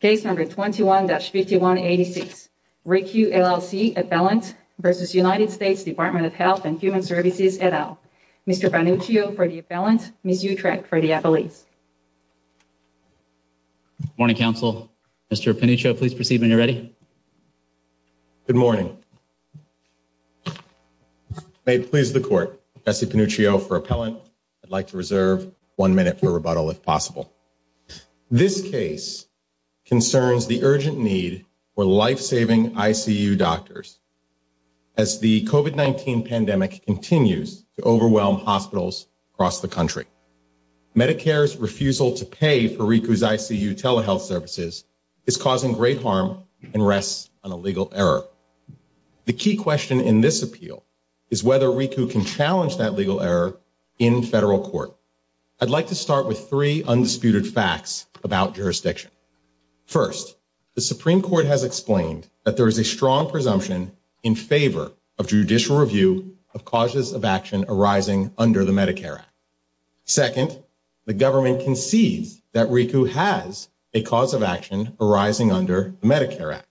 case number 21-5186 RICU LLC appellant versus United States Department of Health and Human Services et al. Mr. Panuccio for the appellant, Ms. Utrecht for the appellate. Good morning, counsel. Mr. Panuccio, please proceed when you're ready. Good morning. May it please the court, Professor Panuccio for appellant. I'd like to reserve one minute for rebuttal if possible. This case concerns the urgent need for life-saving ICU doctors as the COVID-19 pandemic continues to overwhelm hospitals across the country. Medicare's refusal to pay for RICU's ICU telehealth services is causing great harm and rests on a legal error. The key question in this appeal is whether RICU can challenge that legal error in federal court. I'd like to start with three undisputed facts about jurisdiction. First, the Supreme Court has explained that there is a strong presumption in favor of judicial review of causes of action arising under the Medicare Act. Second, the government concedes that RICU has a cause of action arising under the Medicare Act.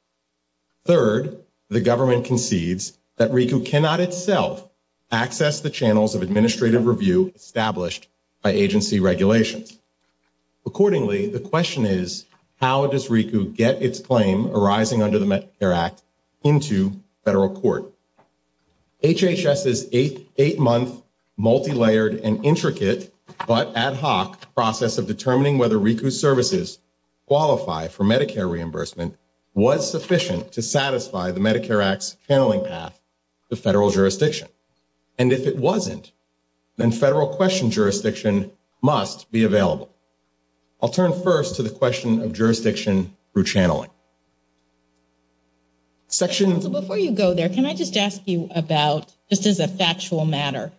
Third, the government concedes that RICU cannot itself access the channels of administrative review established by agency regulations. Accordingly, the question is, how does RICU get its claim arising under the Medicare Act into federal court? HHS's eight-month multilayered and intricate but ad hoc process of determining whether RICU's services qualify for Medicare reimbursement was sufficient to satisfy the jurisdiction. And if it wasn't, then federal question jurisdiction must be available. I'll turn first to the question of jurisdiction through channeling. Section... So before you go there, can I just ask you about, just as a factual matter,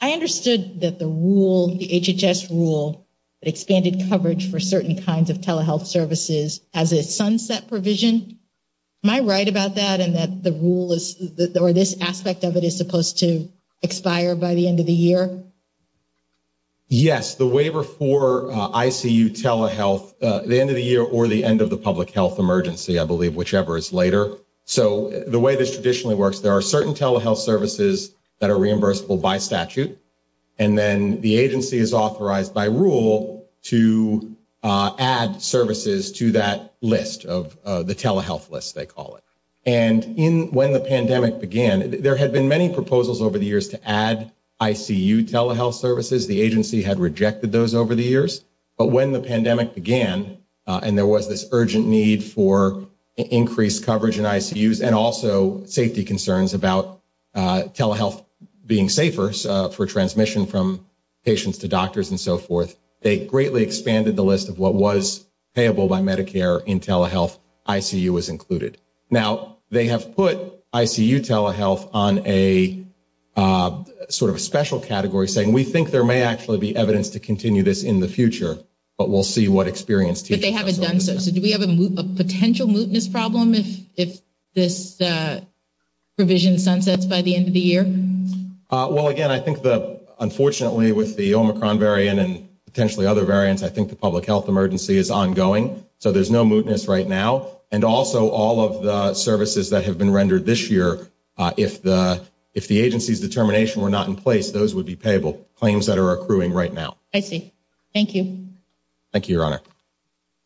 I understood that the rule, the HHS rule that expanded coverage for certain kinds of telehealth services as a sunset provision. Am I right about that? And that the rule is, or this aspect of it, is supposed to expire by the end of the year? Yes, the waiver for ICU telehealth, the end of the year or the end of the public health emergency, I believe, whichever is later. So the way this traditionally works, there are certain telehealth services that are reimbursable by statute. And then the agency is authorized by rule to add services to that list of the telehealth list, they call it. And when the pandemic began, there had been many proposals over the years to add ICU telehealth services. The agency had rejected those over the years. But when the pandemic began and there was this urgent need for increased coverage in ICUs and also safety concerns about telehealth being safer for transmission from patients to doctors and so forth, they greatly expanded the list of what was payable by Medicare in telehealth, ICU was included. Now, they have put ICU telehealth on a sort of a special category saying, we think there may actually be evidence to continue this in the future, but we'll see what experience... But they haven't done so. So do we have a potential mootness problem if this provision sunsets by the end of the year? Well, again, I think that, unfortunately, with the Omicron variant and potentially other variants, I think the public health emergency is ongoing. So there's no mootness right now. And also all of the services that have been rendered this year, if the agency's determination were not in place, those would be payable claims that are accruing right now. I see. Thank you. Thank you, Your Honor.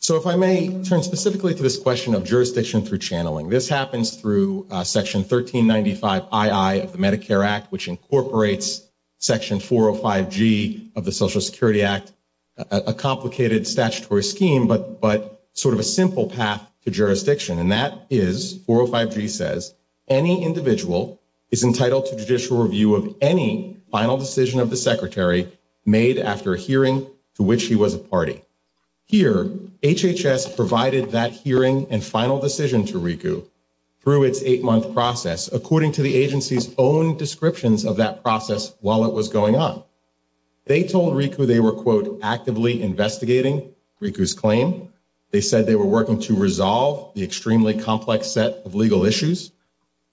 So if I may turn specifically to this question of jurisdiction through channeling, this happens through Section 1395ii of the Medicare Act, which incorporates Section 405G of the Social Security Act, a complicated statutory scheme, but sort of a simple path to jurisdiction. And that is, 405G says, any individual is entitled to judicial responsibility. Here, HHS provided that hearing and final decision to RICU through its eight-month process, according to the agency's own descriptions of that process while it was going on. They told RICU they were, quote, actively investigating RICU's claim. They said they were working to resolve the extremely complex set of legal issues.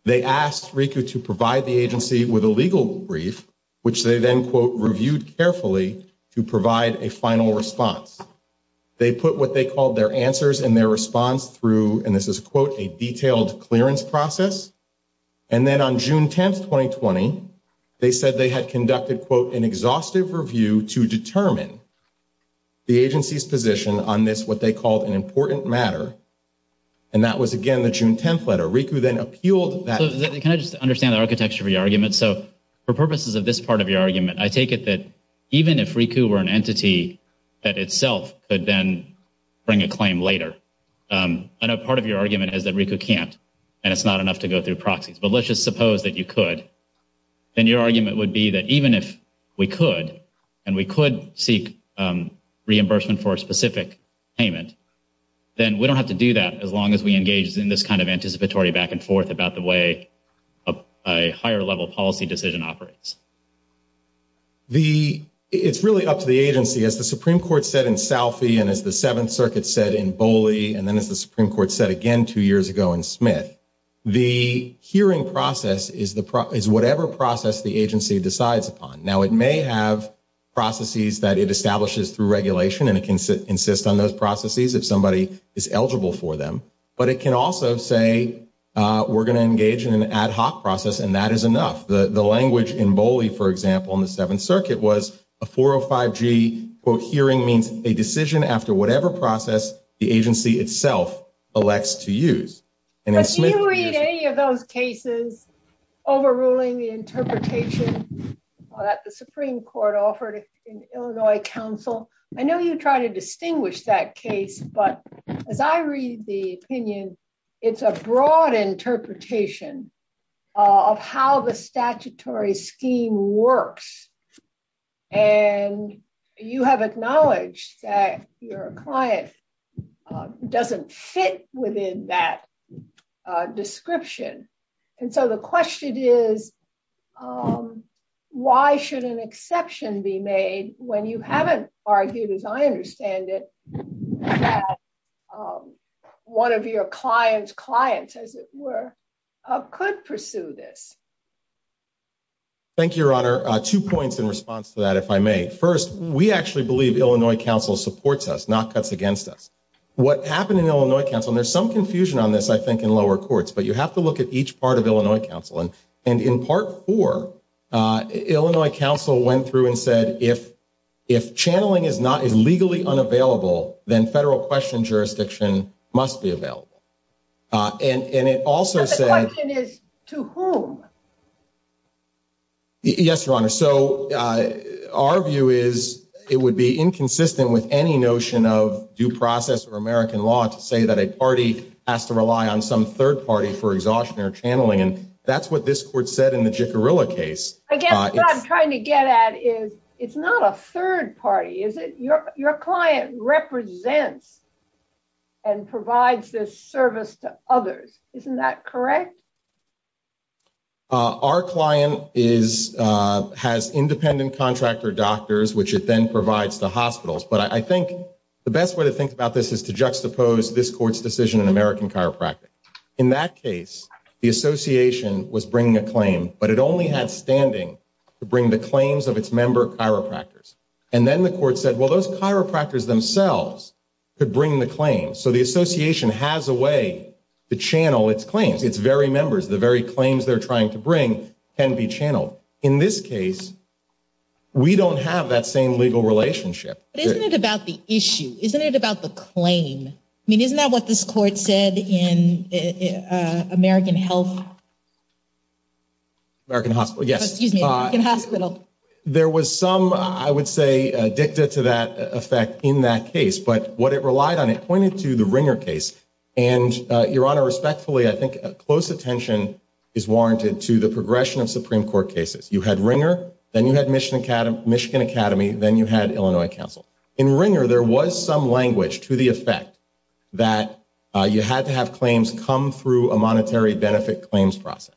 They asked RICU to provide the agency with a legal brief, which they then, quote, reviewed carefully to provide a final response. They put what they called their answers and their response through, and this is, quote, a detailed clearance process. And then on June 10th, 2020, they said they had conducted, quote, an exhaustive review to determine the agency's position on this, what they called an important matter. And that was, again, the June 10th letter. RICU then appealed that— Can I just understand the architecture of your argument? So for purposes of this part of your argument, I take it that even if RICU were an entity that itself could then bring a claim later—I know part of your argument is that RICU can't, and it's not enough to go through proxies, but let's just suppose that you could—then your argument would be that even if we could, and we could seek reimbursement for a specific payment, then we don't have to do that as long as we engage in this kind of anticipatory back and forth about the way a higher-level policy decision operates. It's really up to the agency. As the Supreme Court said in Salfie, and as the Seventh Circuit said in Boley, and then as the Supreme Court said again two years ago in Smith, the hearing process is whatever process the agency decides upon. Now, it may have processes that it establishes through regulation, and it can insist on those processes if somebody is eligible for them, but it can also say, we're going to engage in an ad hoc process, and that is enough. The language in Boley, for example, in the Seventh Circuit was a 405G quote hearing means a decision after whatever process the agency itself elects to use. But do you read any of those cases overruling the interpretation that the Supreme Court offered in Illinois counsel? I know you try to distinguish that case, but as I read the opinion, it's a broad interpretation of how the statutory scheme works, and you have acknowledged that your client doesn't fit within that description. And so the question is, why should an exception be made when you haven't argued, as I understand it, that one of your client's clients, as it were, could pursue this? Thank you, Your Honor. Two points in response to that, if I may. First, we actually believe Illinois counsel supports us, not cuts against us. What happened in Illinois counsel, and there's some confusion on this, I think, in lower courts, but you have to look at each part of Illinois counsel. And in part four, Illinois counsel went through and said, if channeling is legally unavailable, then federal question jurisdiction must be available. And it also said... But the question is, to whom? Yes, Your Honor. So our view is, it would be inconsistent with any notion of due process or American law to say that a party has to rely on some third party for exhaustion or channeling, that's what this court said in the Jicarilla case. Again, what I'm trying to get at is, it's not a third party, is it? Your client represents and provides this service to others. Isn't that correct? Our client has independent contractor doctors, which it then provides to hospitals. But I think the best way to think about this is to juxtapose this court's decision in American chiropractic. In that case, the association was bringing a claim, but it only had standing to bring the claims of its member chiropractors. And then the court said, well, those chiropractors themselves could bring the claim. So the association has a way to channel its claims, its very members, the very claims they're trying to bring can be channeled. In this case, we don't have that same legal relationship. But isn't it about the issue? Isn't it about the claim? I mean, isn't that what this court said in American health? There was some, I would say, dicta to that effect in that case. But what it relied on, it pointed to the Ringer case. And Your Honor, respectfully, I think close attention is warranted to the progression of Supreme Court cases. You had Ringer, then you had Michigan Academy, then you had Illinois Council. In Ringer, there was some you had to have claims come through a monetary benefit claims process.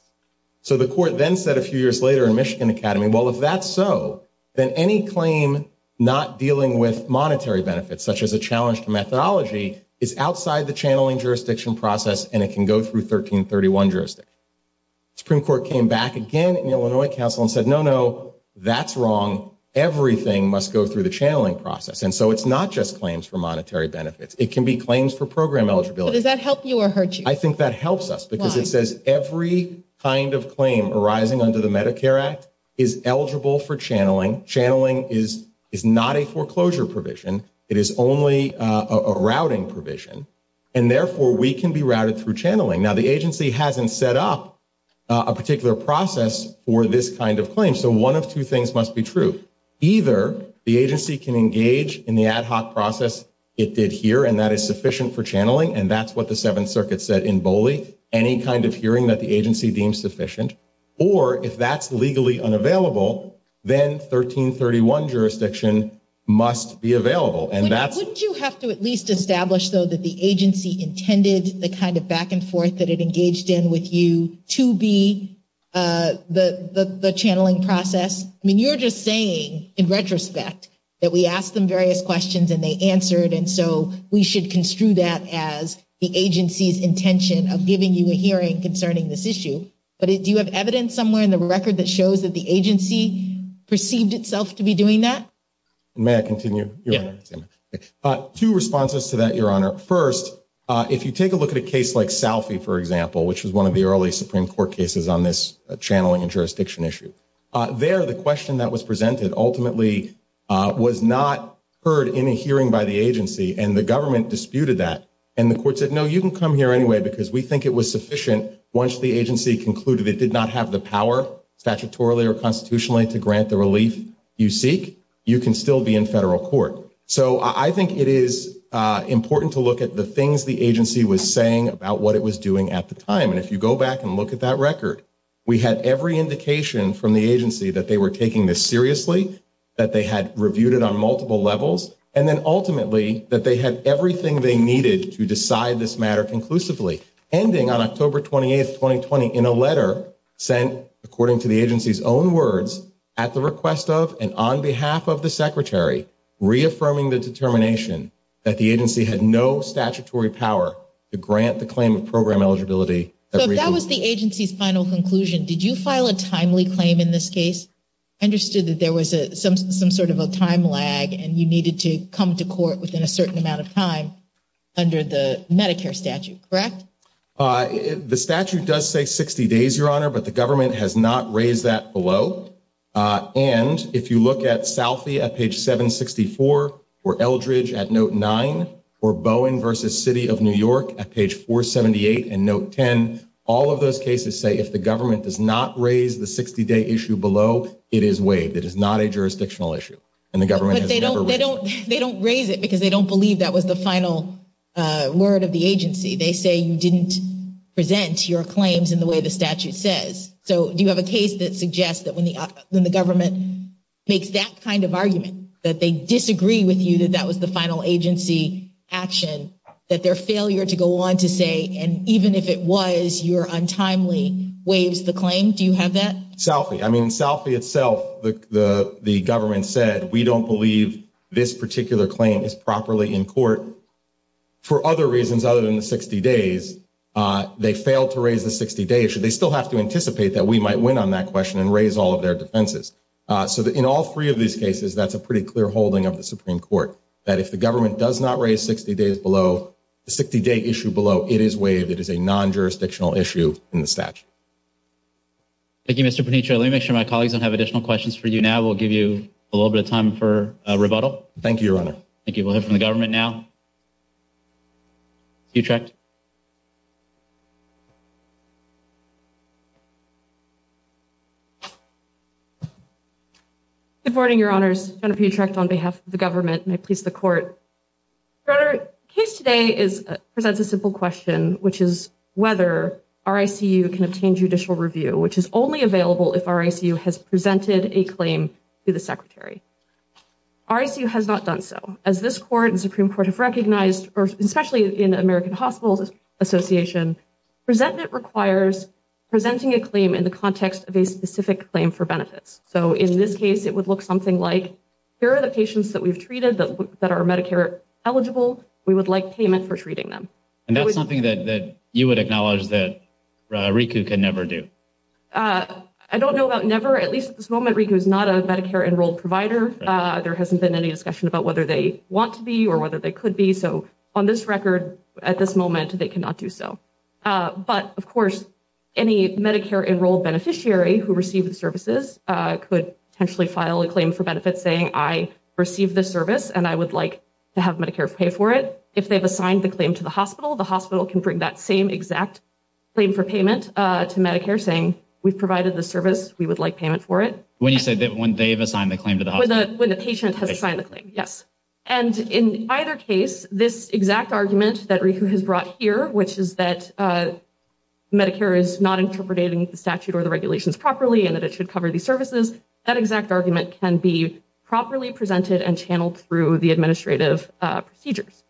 So the court then said a few years later in Michigan Academy, well, if that's so, then any claim not dealing with monetary benefits, such as a challenge to methodology, is outside the channeling jurisdiction process and it can go through 1331 jurisdiction. Supreme Court came back again in Illinois Council and said, no, no, that's wrong. Everything must go through the channeling process. And so it's not just claims for monetary benefits. It can be program eligibility. Does that help you or hurt you? I think that helps us because it says every kind of claim arising under the Medicare Act is eligible for channeling. Channeling is not a foreclosure provision. It is only a routing provision. And therefore, we can be routed through channeling. Now, the agency hasn't set up a particular process for this kind of claim. So one of two things must be true. Either the agency can engage in the ad hoc process it did here and that is sufficient for channeling. And that's what the Seventh Circuit said in Bowley. Any kind of hearing that the agency deems sufficient. Or if that's legally unavailable, then 1331 jurisdiction must be available. And that's... Wouldn't you have to at least establish, though, that the agency intended the kind of back and forth that it engaged in with you to be the channeling process? I mean, you're just saying in retrospect, that we asked them various questions and they answered. And so we should construe that as the agency's intention of giving you a hearing concerning this issue. But do you have evidence somewhere in the record that shows that the agency perceived itself to be doing that? May I continue? Yeah. Two responses to that, Your Honor. First, if you take a look at a case like Salfie, for example, which was one of the early Supreme Court cases on this channeling and jurisdiction issue. There, the question that was presented ultimately was not heard in a hearing by the agency. And the government disputed that. And the court said, no, you can come here anyway, because we think it was sufficient. Once the agency concluded it did not have the power statutorily or constitutionally to grant the relief you seek, you can still be in federal court. So I think it is important to look at the things the agency was saying about what it was doing at the time. And if you go back and look at that record, we had every indication from the agency that they were taking this seriously, that they had reviewed it on multiple levels, and then ultimately that they had everything they needed to decide this matter conclusively, ending on October 28th, 2020, in a letter sent, according to the agency's own words, at the request of and on behalf of the Secretary, reaffirming the determination that the agency had no statutory power to grant the claim of eligibility. So that was the agency's final conclusion. Did you file a timely claim in this case? I understood that there was some sort of a time lag and you needed to come to court within a certain amount of time under the Medicare statute, correct? The statute does say 60 days, Your Honor, but the government has not raised that below. And if you look at Southie at page 764, or Eldridge at note 9, or Bowen v. City of New York at page 478 and note 10, all of those cases say if the government does not raise the 60-day issue below, it is waived. It is not a jurisdictional issue, and the government has never raised it. But they don't raise it because they don't believe that was the final word of the agency. They say you didn't present your claims in the way the statute says. So do you have a case that suggests that when the government makes that kind of argument, that they disagree with you that that was the final agency action, that their failure to go on to say, and even if it was, you're untimely, waives the claim? Do you have that? Southie. I mean, Southie itself, the government said, we don't believe this particular claim is properly in court. For other reasons other than the 60 days, they failed to raise the 60-day issue. They still have to anticipate that we might win on that question and raise all of their defenses. So in all three of these cases, that's a pretty clear holding of the Supreme Court, that if the government does not raise 60 days below, the 60-day issue below, it is waived. It is a non-jurisdictional issue in the statute. Thank you, Mr. Paniccio. Let me make sure my colleagues don't have additional questions for you now. We'll give you a little bit of time for rebuttal. Thank you, Your Honor. Thank you. We'll hear from the government now. Piotrek? Good morning, Your Honors. Jennifer Piotrek on behalf of the government, and I please the court. Your Honor, the case today presents a simple question, which is whether RICU can obtain judicial review, which is only available if RICU has presented a claim to the Secretary. RICU has not done so. As this Court and Supreme Court have recognized, especially in the American Hospitals Association, presentment requires presenting a claim in the context of a specific claim for benefits. So in this case, it would look something like, here are the patients that we've treated that are Medicare eligible. We would like payment for treating them. And that's something that you would acknowledge that RICU can never do. I don't know about never. At least at this moment, RICU is not a Medicare-enrolled provider. There hasn't been any discussion about whether they want to be or whether they could be. So on this record, at this moment, they cannot do so. But of course, any Medicare-enrolled beneficiary who received the services could potentially file a claim for benefits saying, I received this service, and I would like to have Medicare pay for it. If they've assigned the claim to the hospital, the hospital can bring that same exact claim for payment to Medicare, we've provided the service, we would like payment for it. When you say when they've assigned the claim to the hospital? When the patient has signed the claim, yes. And in either case, this exact argument that RICU has brought here, which is that Medicare is not interpreting the statute or the regulations properly and that it should cover these services, that exact argument can be properly presented and channeled through the administrative procedures.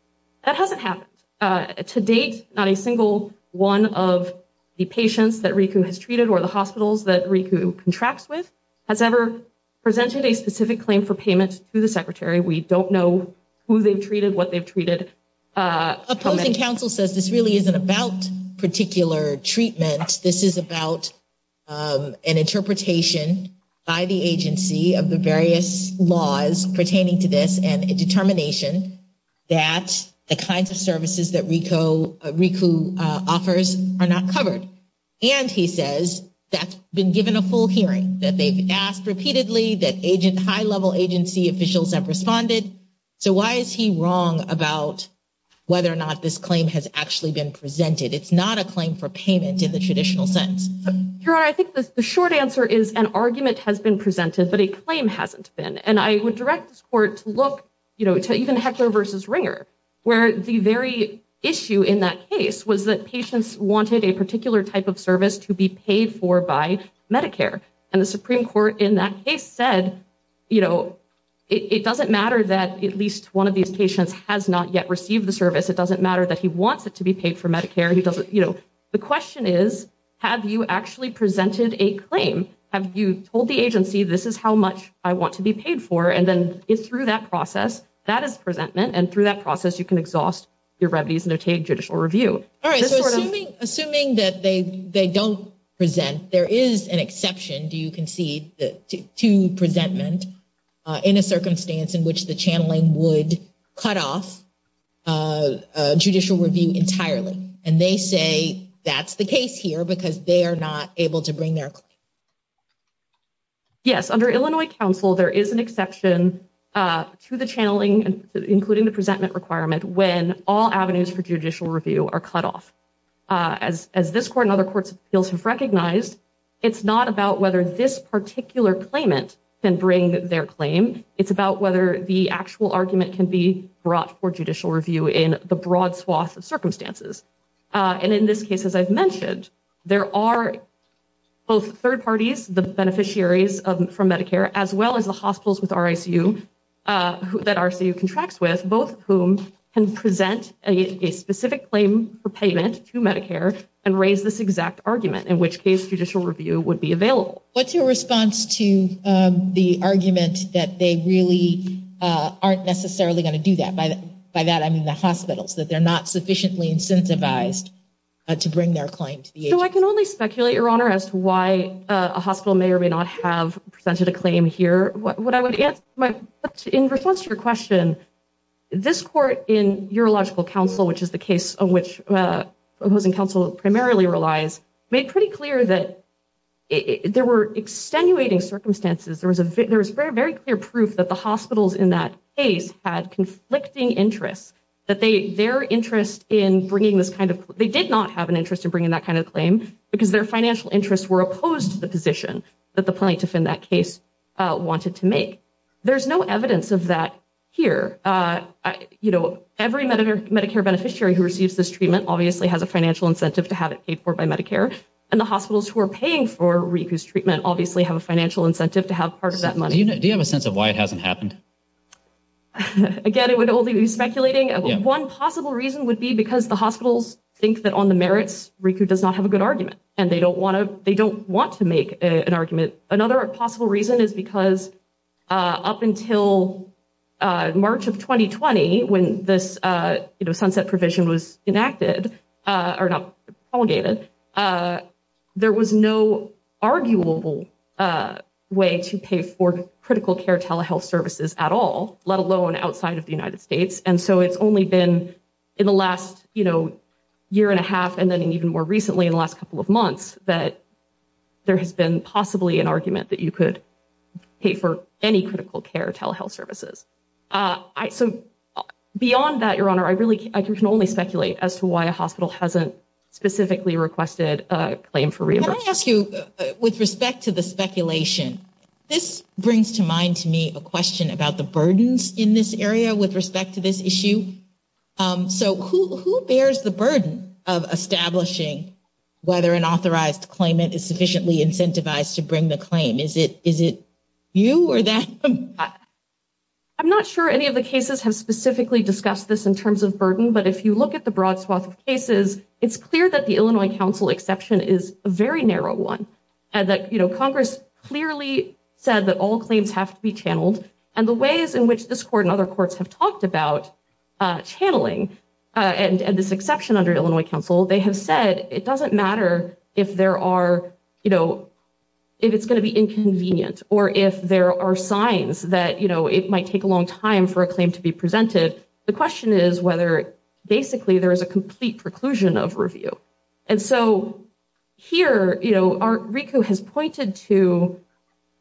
That hasn't happened. To date, not a single one of the patients that RICU has treated or the hospitals that RICU contracts with has ever presented a specific claim for payment to the secretary. We don't know who they've treated, what they've treated. Opposing counsel says this really isn't about particular treatment. This is about an interpretation by the agency of the various laws pertaining to this and a determination that the kinds of services that RICU offers are not covered. And he says that's been given a full hearing, that they've asked repeatedly, that high level agency officials have responded. So why is he wrong about whether or not this claim has actually been presented? It's not a claim for payment in the traditional sense. Your Honor, I think the short answer is an argument has been presented, but a claim hasn't been. And I would direct this court to look to even Heckler versus Ringer, where the very issue in that case was that patients wanted a particular type of service to be paid for by Medicare. And the Supreme Court in that case said, it doesn't matter that at least one of these patients has not yet received the service. It doesn't matter that he wants it to be paid for Medicare. The question is, have you actually presented a claim? Have you told the agency, this is how much I want to be paid for? And then through that process, that is presentment. And through that process, you can exhaust your remedies and obtain judicial review. All right. So assuming that they don't present, there is an exception, do you concede, to presentment in a circumstance in which the channeling would cut off judicial review entirely. And they say that's the case here because they are not able to bring their claim. Yes. Under Illinois counsel, there is an exception to the channeling, including the presentment requirement, when all avenues for judicial review are cut off. As this court and other courts of appeals have recognized, it's not about whether this particular claimant can bring their claim. It's about whether the actual argument can be brought for judicial review in the broad swath of circumstances. And in this case, as I've mentioned, there are both third parties, the beneficiaries from Medicare, as well as the hospitals with RICU that RICU contracts with, both of whom can present a specific claim for payment to Medicare and raise this exact argument, in which case judicial review would be available. What's your response to the argument that they really aren't necessarily going to do that? By that, I mean the hospitals, that they're not sufficiently incentivized to bring their claim to the agency. So I can only speculate, Your Honor, as to why a hospital may or may not have presented a claim here. What I would answer, in response to your question, this court in urological counsel, which is the case on which opposing counsel primarily relies, made pretty clear that there were extenuating circumstances. There was very clear proof that the hospitals in that case had conflicting interests, that they, their interest in bringing this kind of, they did not have an interest in bringing that kind of claim because their financial interests were opposed to the position that the plaintiff in that case wanted to make. There's no evidence of that here. You know, every Medicare beneficiary who receives this treatment obviously has a financial incentive to have it paid for by Medicare, and the hospitals who are paying for RICU's treatment obviously have a financial incentive to have part of that money. Do you have a sense of why it hasn't happened? Again, it would only be speculating. One possible reason would be because the hospitals think that on the merits, RICU does not have a good argument, and they don't want to, they don't want to make an argument. Another possible reason is because up until March of 2020, when this, you know, sunset provision was enacted, or not prolegated, there was no arguable way to pay for critical care telehealth services at all, let alone outside of the United States. And so it's only been in the last, you know, year and a half, and then even more recently in the last couple of months, that there has been possibly an argument that you could pay for any critical care telehealth services. So beyond that, Your Honor, I really, I can only speculate as to why a hospital hasn't specifically requested a claim for reimbursement. Can I ask you, with respect to the speculation, this brings to mind to me a question about the burdens in this area with respect to this issue. So who bears the burden of establishing whether an authorized claimant is sufficiently incentivized to bring the claim? Is it you or that? I'm not sure any of the cases have specifically discussed this in terms of burden, but if you look at the broad swath of cases, it's clear that the Illinois Council exception is a very narrow one, and that, you know, Congress clearly said that all claims have to be channeled, and the ways in which this Court and other courts have talked about channeling, and this exception under Illinois Council, they have said it doesn't matter if there are, you know, if it's going to be inconvenient, or if there are signs that, you know, it might take a long time for a claim to be presented. The question is whether basically there is a complete preclusion of review. And so here, you know, our RICO has pointed to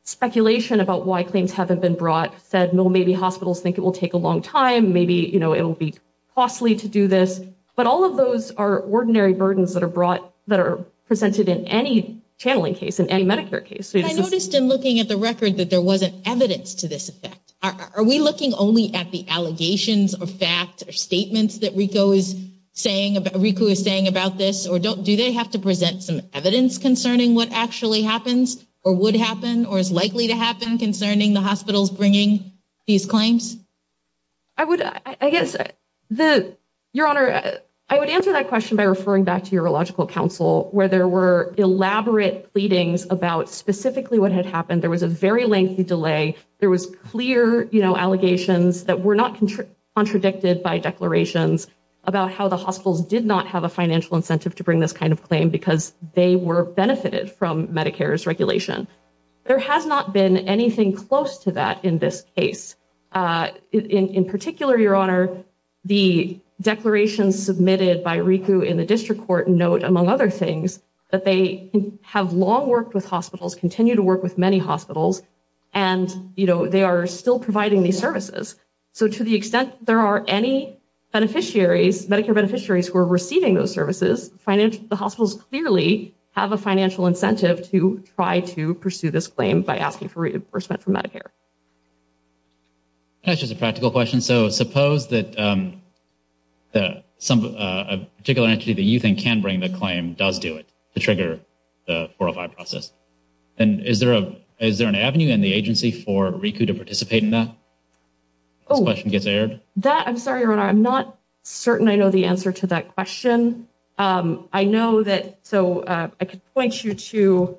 speculation about why claims haven't been brought, said, well, maybe hospitals think it will take a long time, maybe, you know, it will be costly to do this, but all of those are ordinary burdens that are brought, that are presented in any channeling case, in any Medicare case. I noticed in looking at the record that there wasn't evidence to this effect. Are we looking only at the allegations of fact or statements that RICO is saying, RICO is saying about this, or do they have to present some evidence concerning what actually happens, or would happen, or is likely to happen concerning the hospitals bringing these claims? I would, I guess the, Your Honor, I would answer that question by referring back to your illogical counsel, where there were elaborate pleadings about specifically what had happened. There was a very lengthy delay. There was clear, you know, allegations that were not contradicted by declarations about how the hospitals did not have a financial incentive to bring this kind of claim because they were benefited from Medicare's regulation. There has not been anything close to that in this case. In particular, Your Honor, the declarations submitted by RICO in the district court note, among other things, that they have long worked with hospitals, continue to work with many hospitals, and, you know, they are still providing these services. So to the extent there are any beneficiaries, Medicare beneficiaries, who are receiving those services, the hospitals clearly have a financial incentive to try to pursue this claim by asking for reimbursement from Medicare. That's just a practical question. So suppose that a particular entity that you think can bring the claim does do it to trigger the 405 process. And is there an avenue in the agency for RICO to participate in that? Oh, I'm sorry, Your Honor. I'm not certain I know the answer to that question. I know that, so I could point you to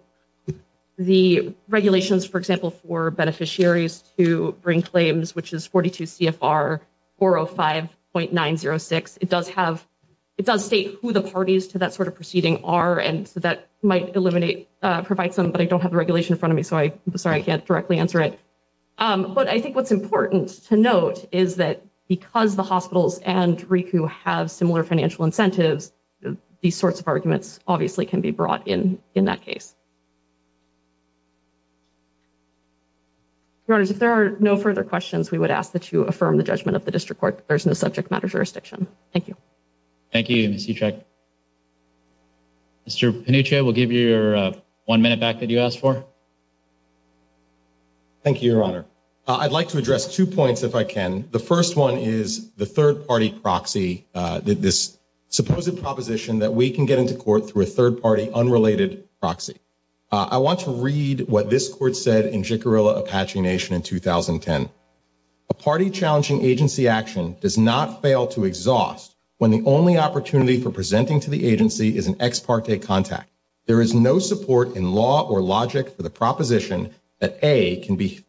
the regulations, for example, for beneficiaries to bring claims, which is 42 CFR 405.906. It does have, it does state who the parties to that sort of proceeding are, and so that might eliminate, provide some, but I don't have the regulation in front of me, so I'm sorry I can't directly answer it. But I think what's important to note is that because the hospitals and RICO have similar financial incentives, these sorts of arguments obviously can be brought in in that case. Your Honors, if there are no further questions, we would ask that you affirm the judgment of the district court that there's no subject matter jurisdiction. Thank you. Thank you, Ms. Utrecht. Mr. Pinocchio, we'll give you your one minute back that you asked for. Thank you, Your Honor. I'd like to address two points, if I can. The first one is the third party proxy, this supposed proposition that we can get into court through a third party unrelated proxy. I want to read what this court said in Jicarilla Apache Nation in 2010. A party challenging agency action does not fail to exhaust when the only opportunity for presenting to the agency is an ex parte contact. There is no support in law or logic for the proposition that A can be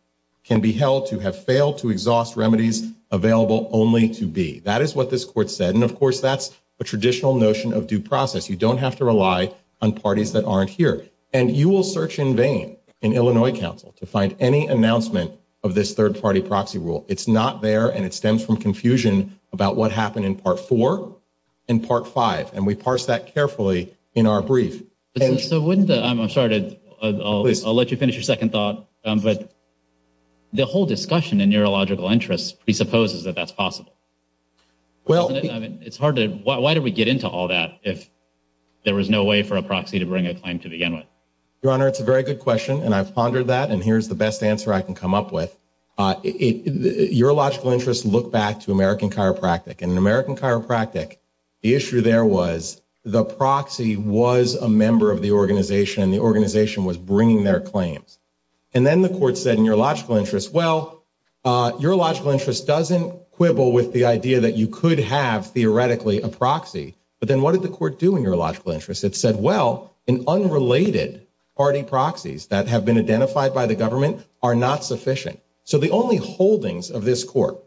can be held to have failed to exhaust remedies available only to B. That is what this court said, and of course that's a traditional notion of due process. You don't have to rely on parties that aren't here, and you will search in vain in Illinois Council to find any announcement of this third party proxy rule. It's not there, and it stems from confusion about what happened in part four and part five, and we parse that carefully in our brief. So wouldn't the, I'm sorry, I'll let you finish your second thought, but the whole discussion in neurological interests presupposes that that's possible. Well, I mean, it's hard to, why do we get into all that if there was no way for a proxy to bring a claim to begin with? Your Honor, it's a very good question, and I've pondered that, and here's the best answer I can come up with. Neurological interests look back to American chiropractic. In American chiropractic, the issue there was the proxy was a member of the organization, and the organization was bringing their claims, and then the court said in your logical interest, well, your logical interest doesn't quibble with the idea that you could have theoretically a proxy, but then what did the court do in your logical interest? It said, well, in unrelated party proxies that have been identified by the government are not sufficient. So the only holdings of this court,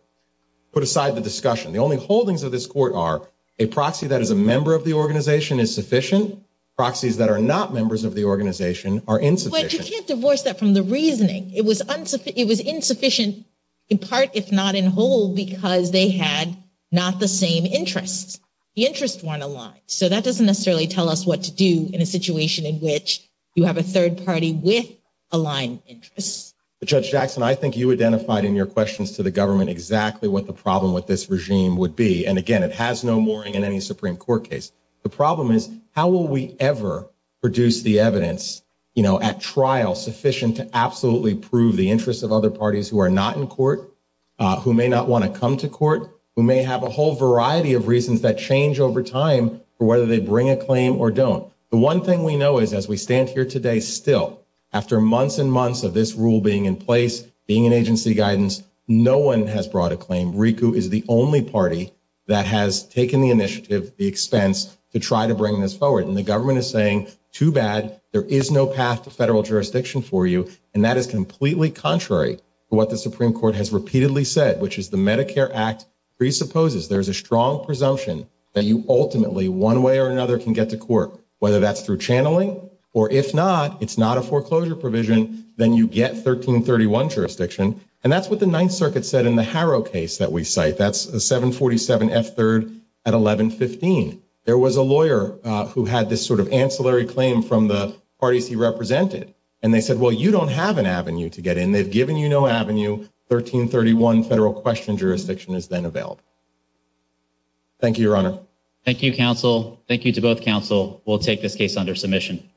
put aside the discussion, the only holdings of this court are a proxy that is a member of the organization is sufficient, proxies that are not members of the organization are insufficient. But you can't divorce that from the reasoning. It was insufficient in part, if not in whole, because they had not the same interests. The interests weren't aligned, so that doesn't necessarily tell us what to do in a situation in which you have a third party with aligned interests. Judge Jackson, I think you identified in your questions to the government exactly what the problem with this regime would be, and again, it has no mooring in any Supreme Court case. The problem is, how will we ever produce the evidence, you know, at trial sufficient to absolutely prove the interests of other parties who are not in court, who may not want to come to trial. They may not want to come to trial. They may not want to come to trial. It's a matter of time for whether they bring a claim or don't. The one thing we know is, as we stand here today, still, after months and months of this rule being in place, being in agency guidance, no one has brought a claim. RICU is the only party that has taken the initiative, the expense to try to bring this forward. And the government is saying, too bad, there is no path to federal jurisdiction for you. And that is completely contrary to what the Supreme Court has repeatedly said, which is, the Medicare Act presupposes there is a strong presumption that you ultimately, one way or another, can get to court, whether that's through channeling, or if not, it's not a foreclosure provision, then you get 1331 jurisdiction. And that's what the Ninth Circuit said in the Harrow case that we cite. That's a 747 F3rd at 1115. There was a lawyer who had this sort of ancillary claim from the parties he represented. And they said, well, you don't have an avenue to get in. They've given you no avenue. 1331 federal question jurisdiction is then available. Thank you, Your Honor. Thank you, counsel. Thank you to both counsel. We'll take this case under submission.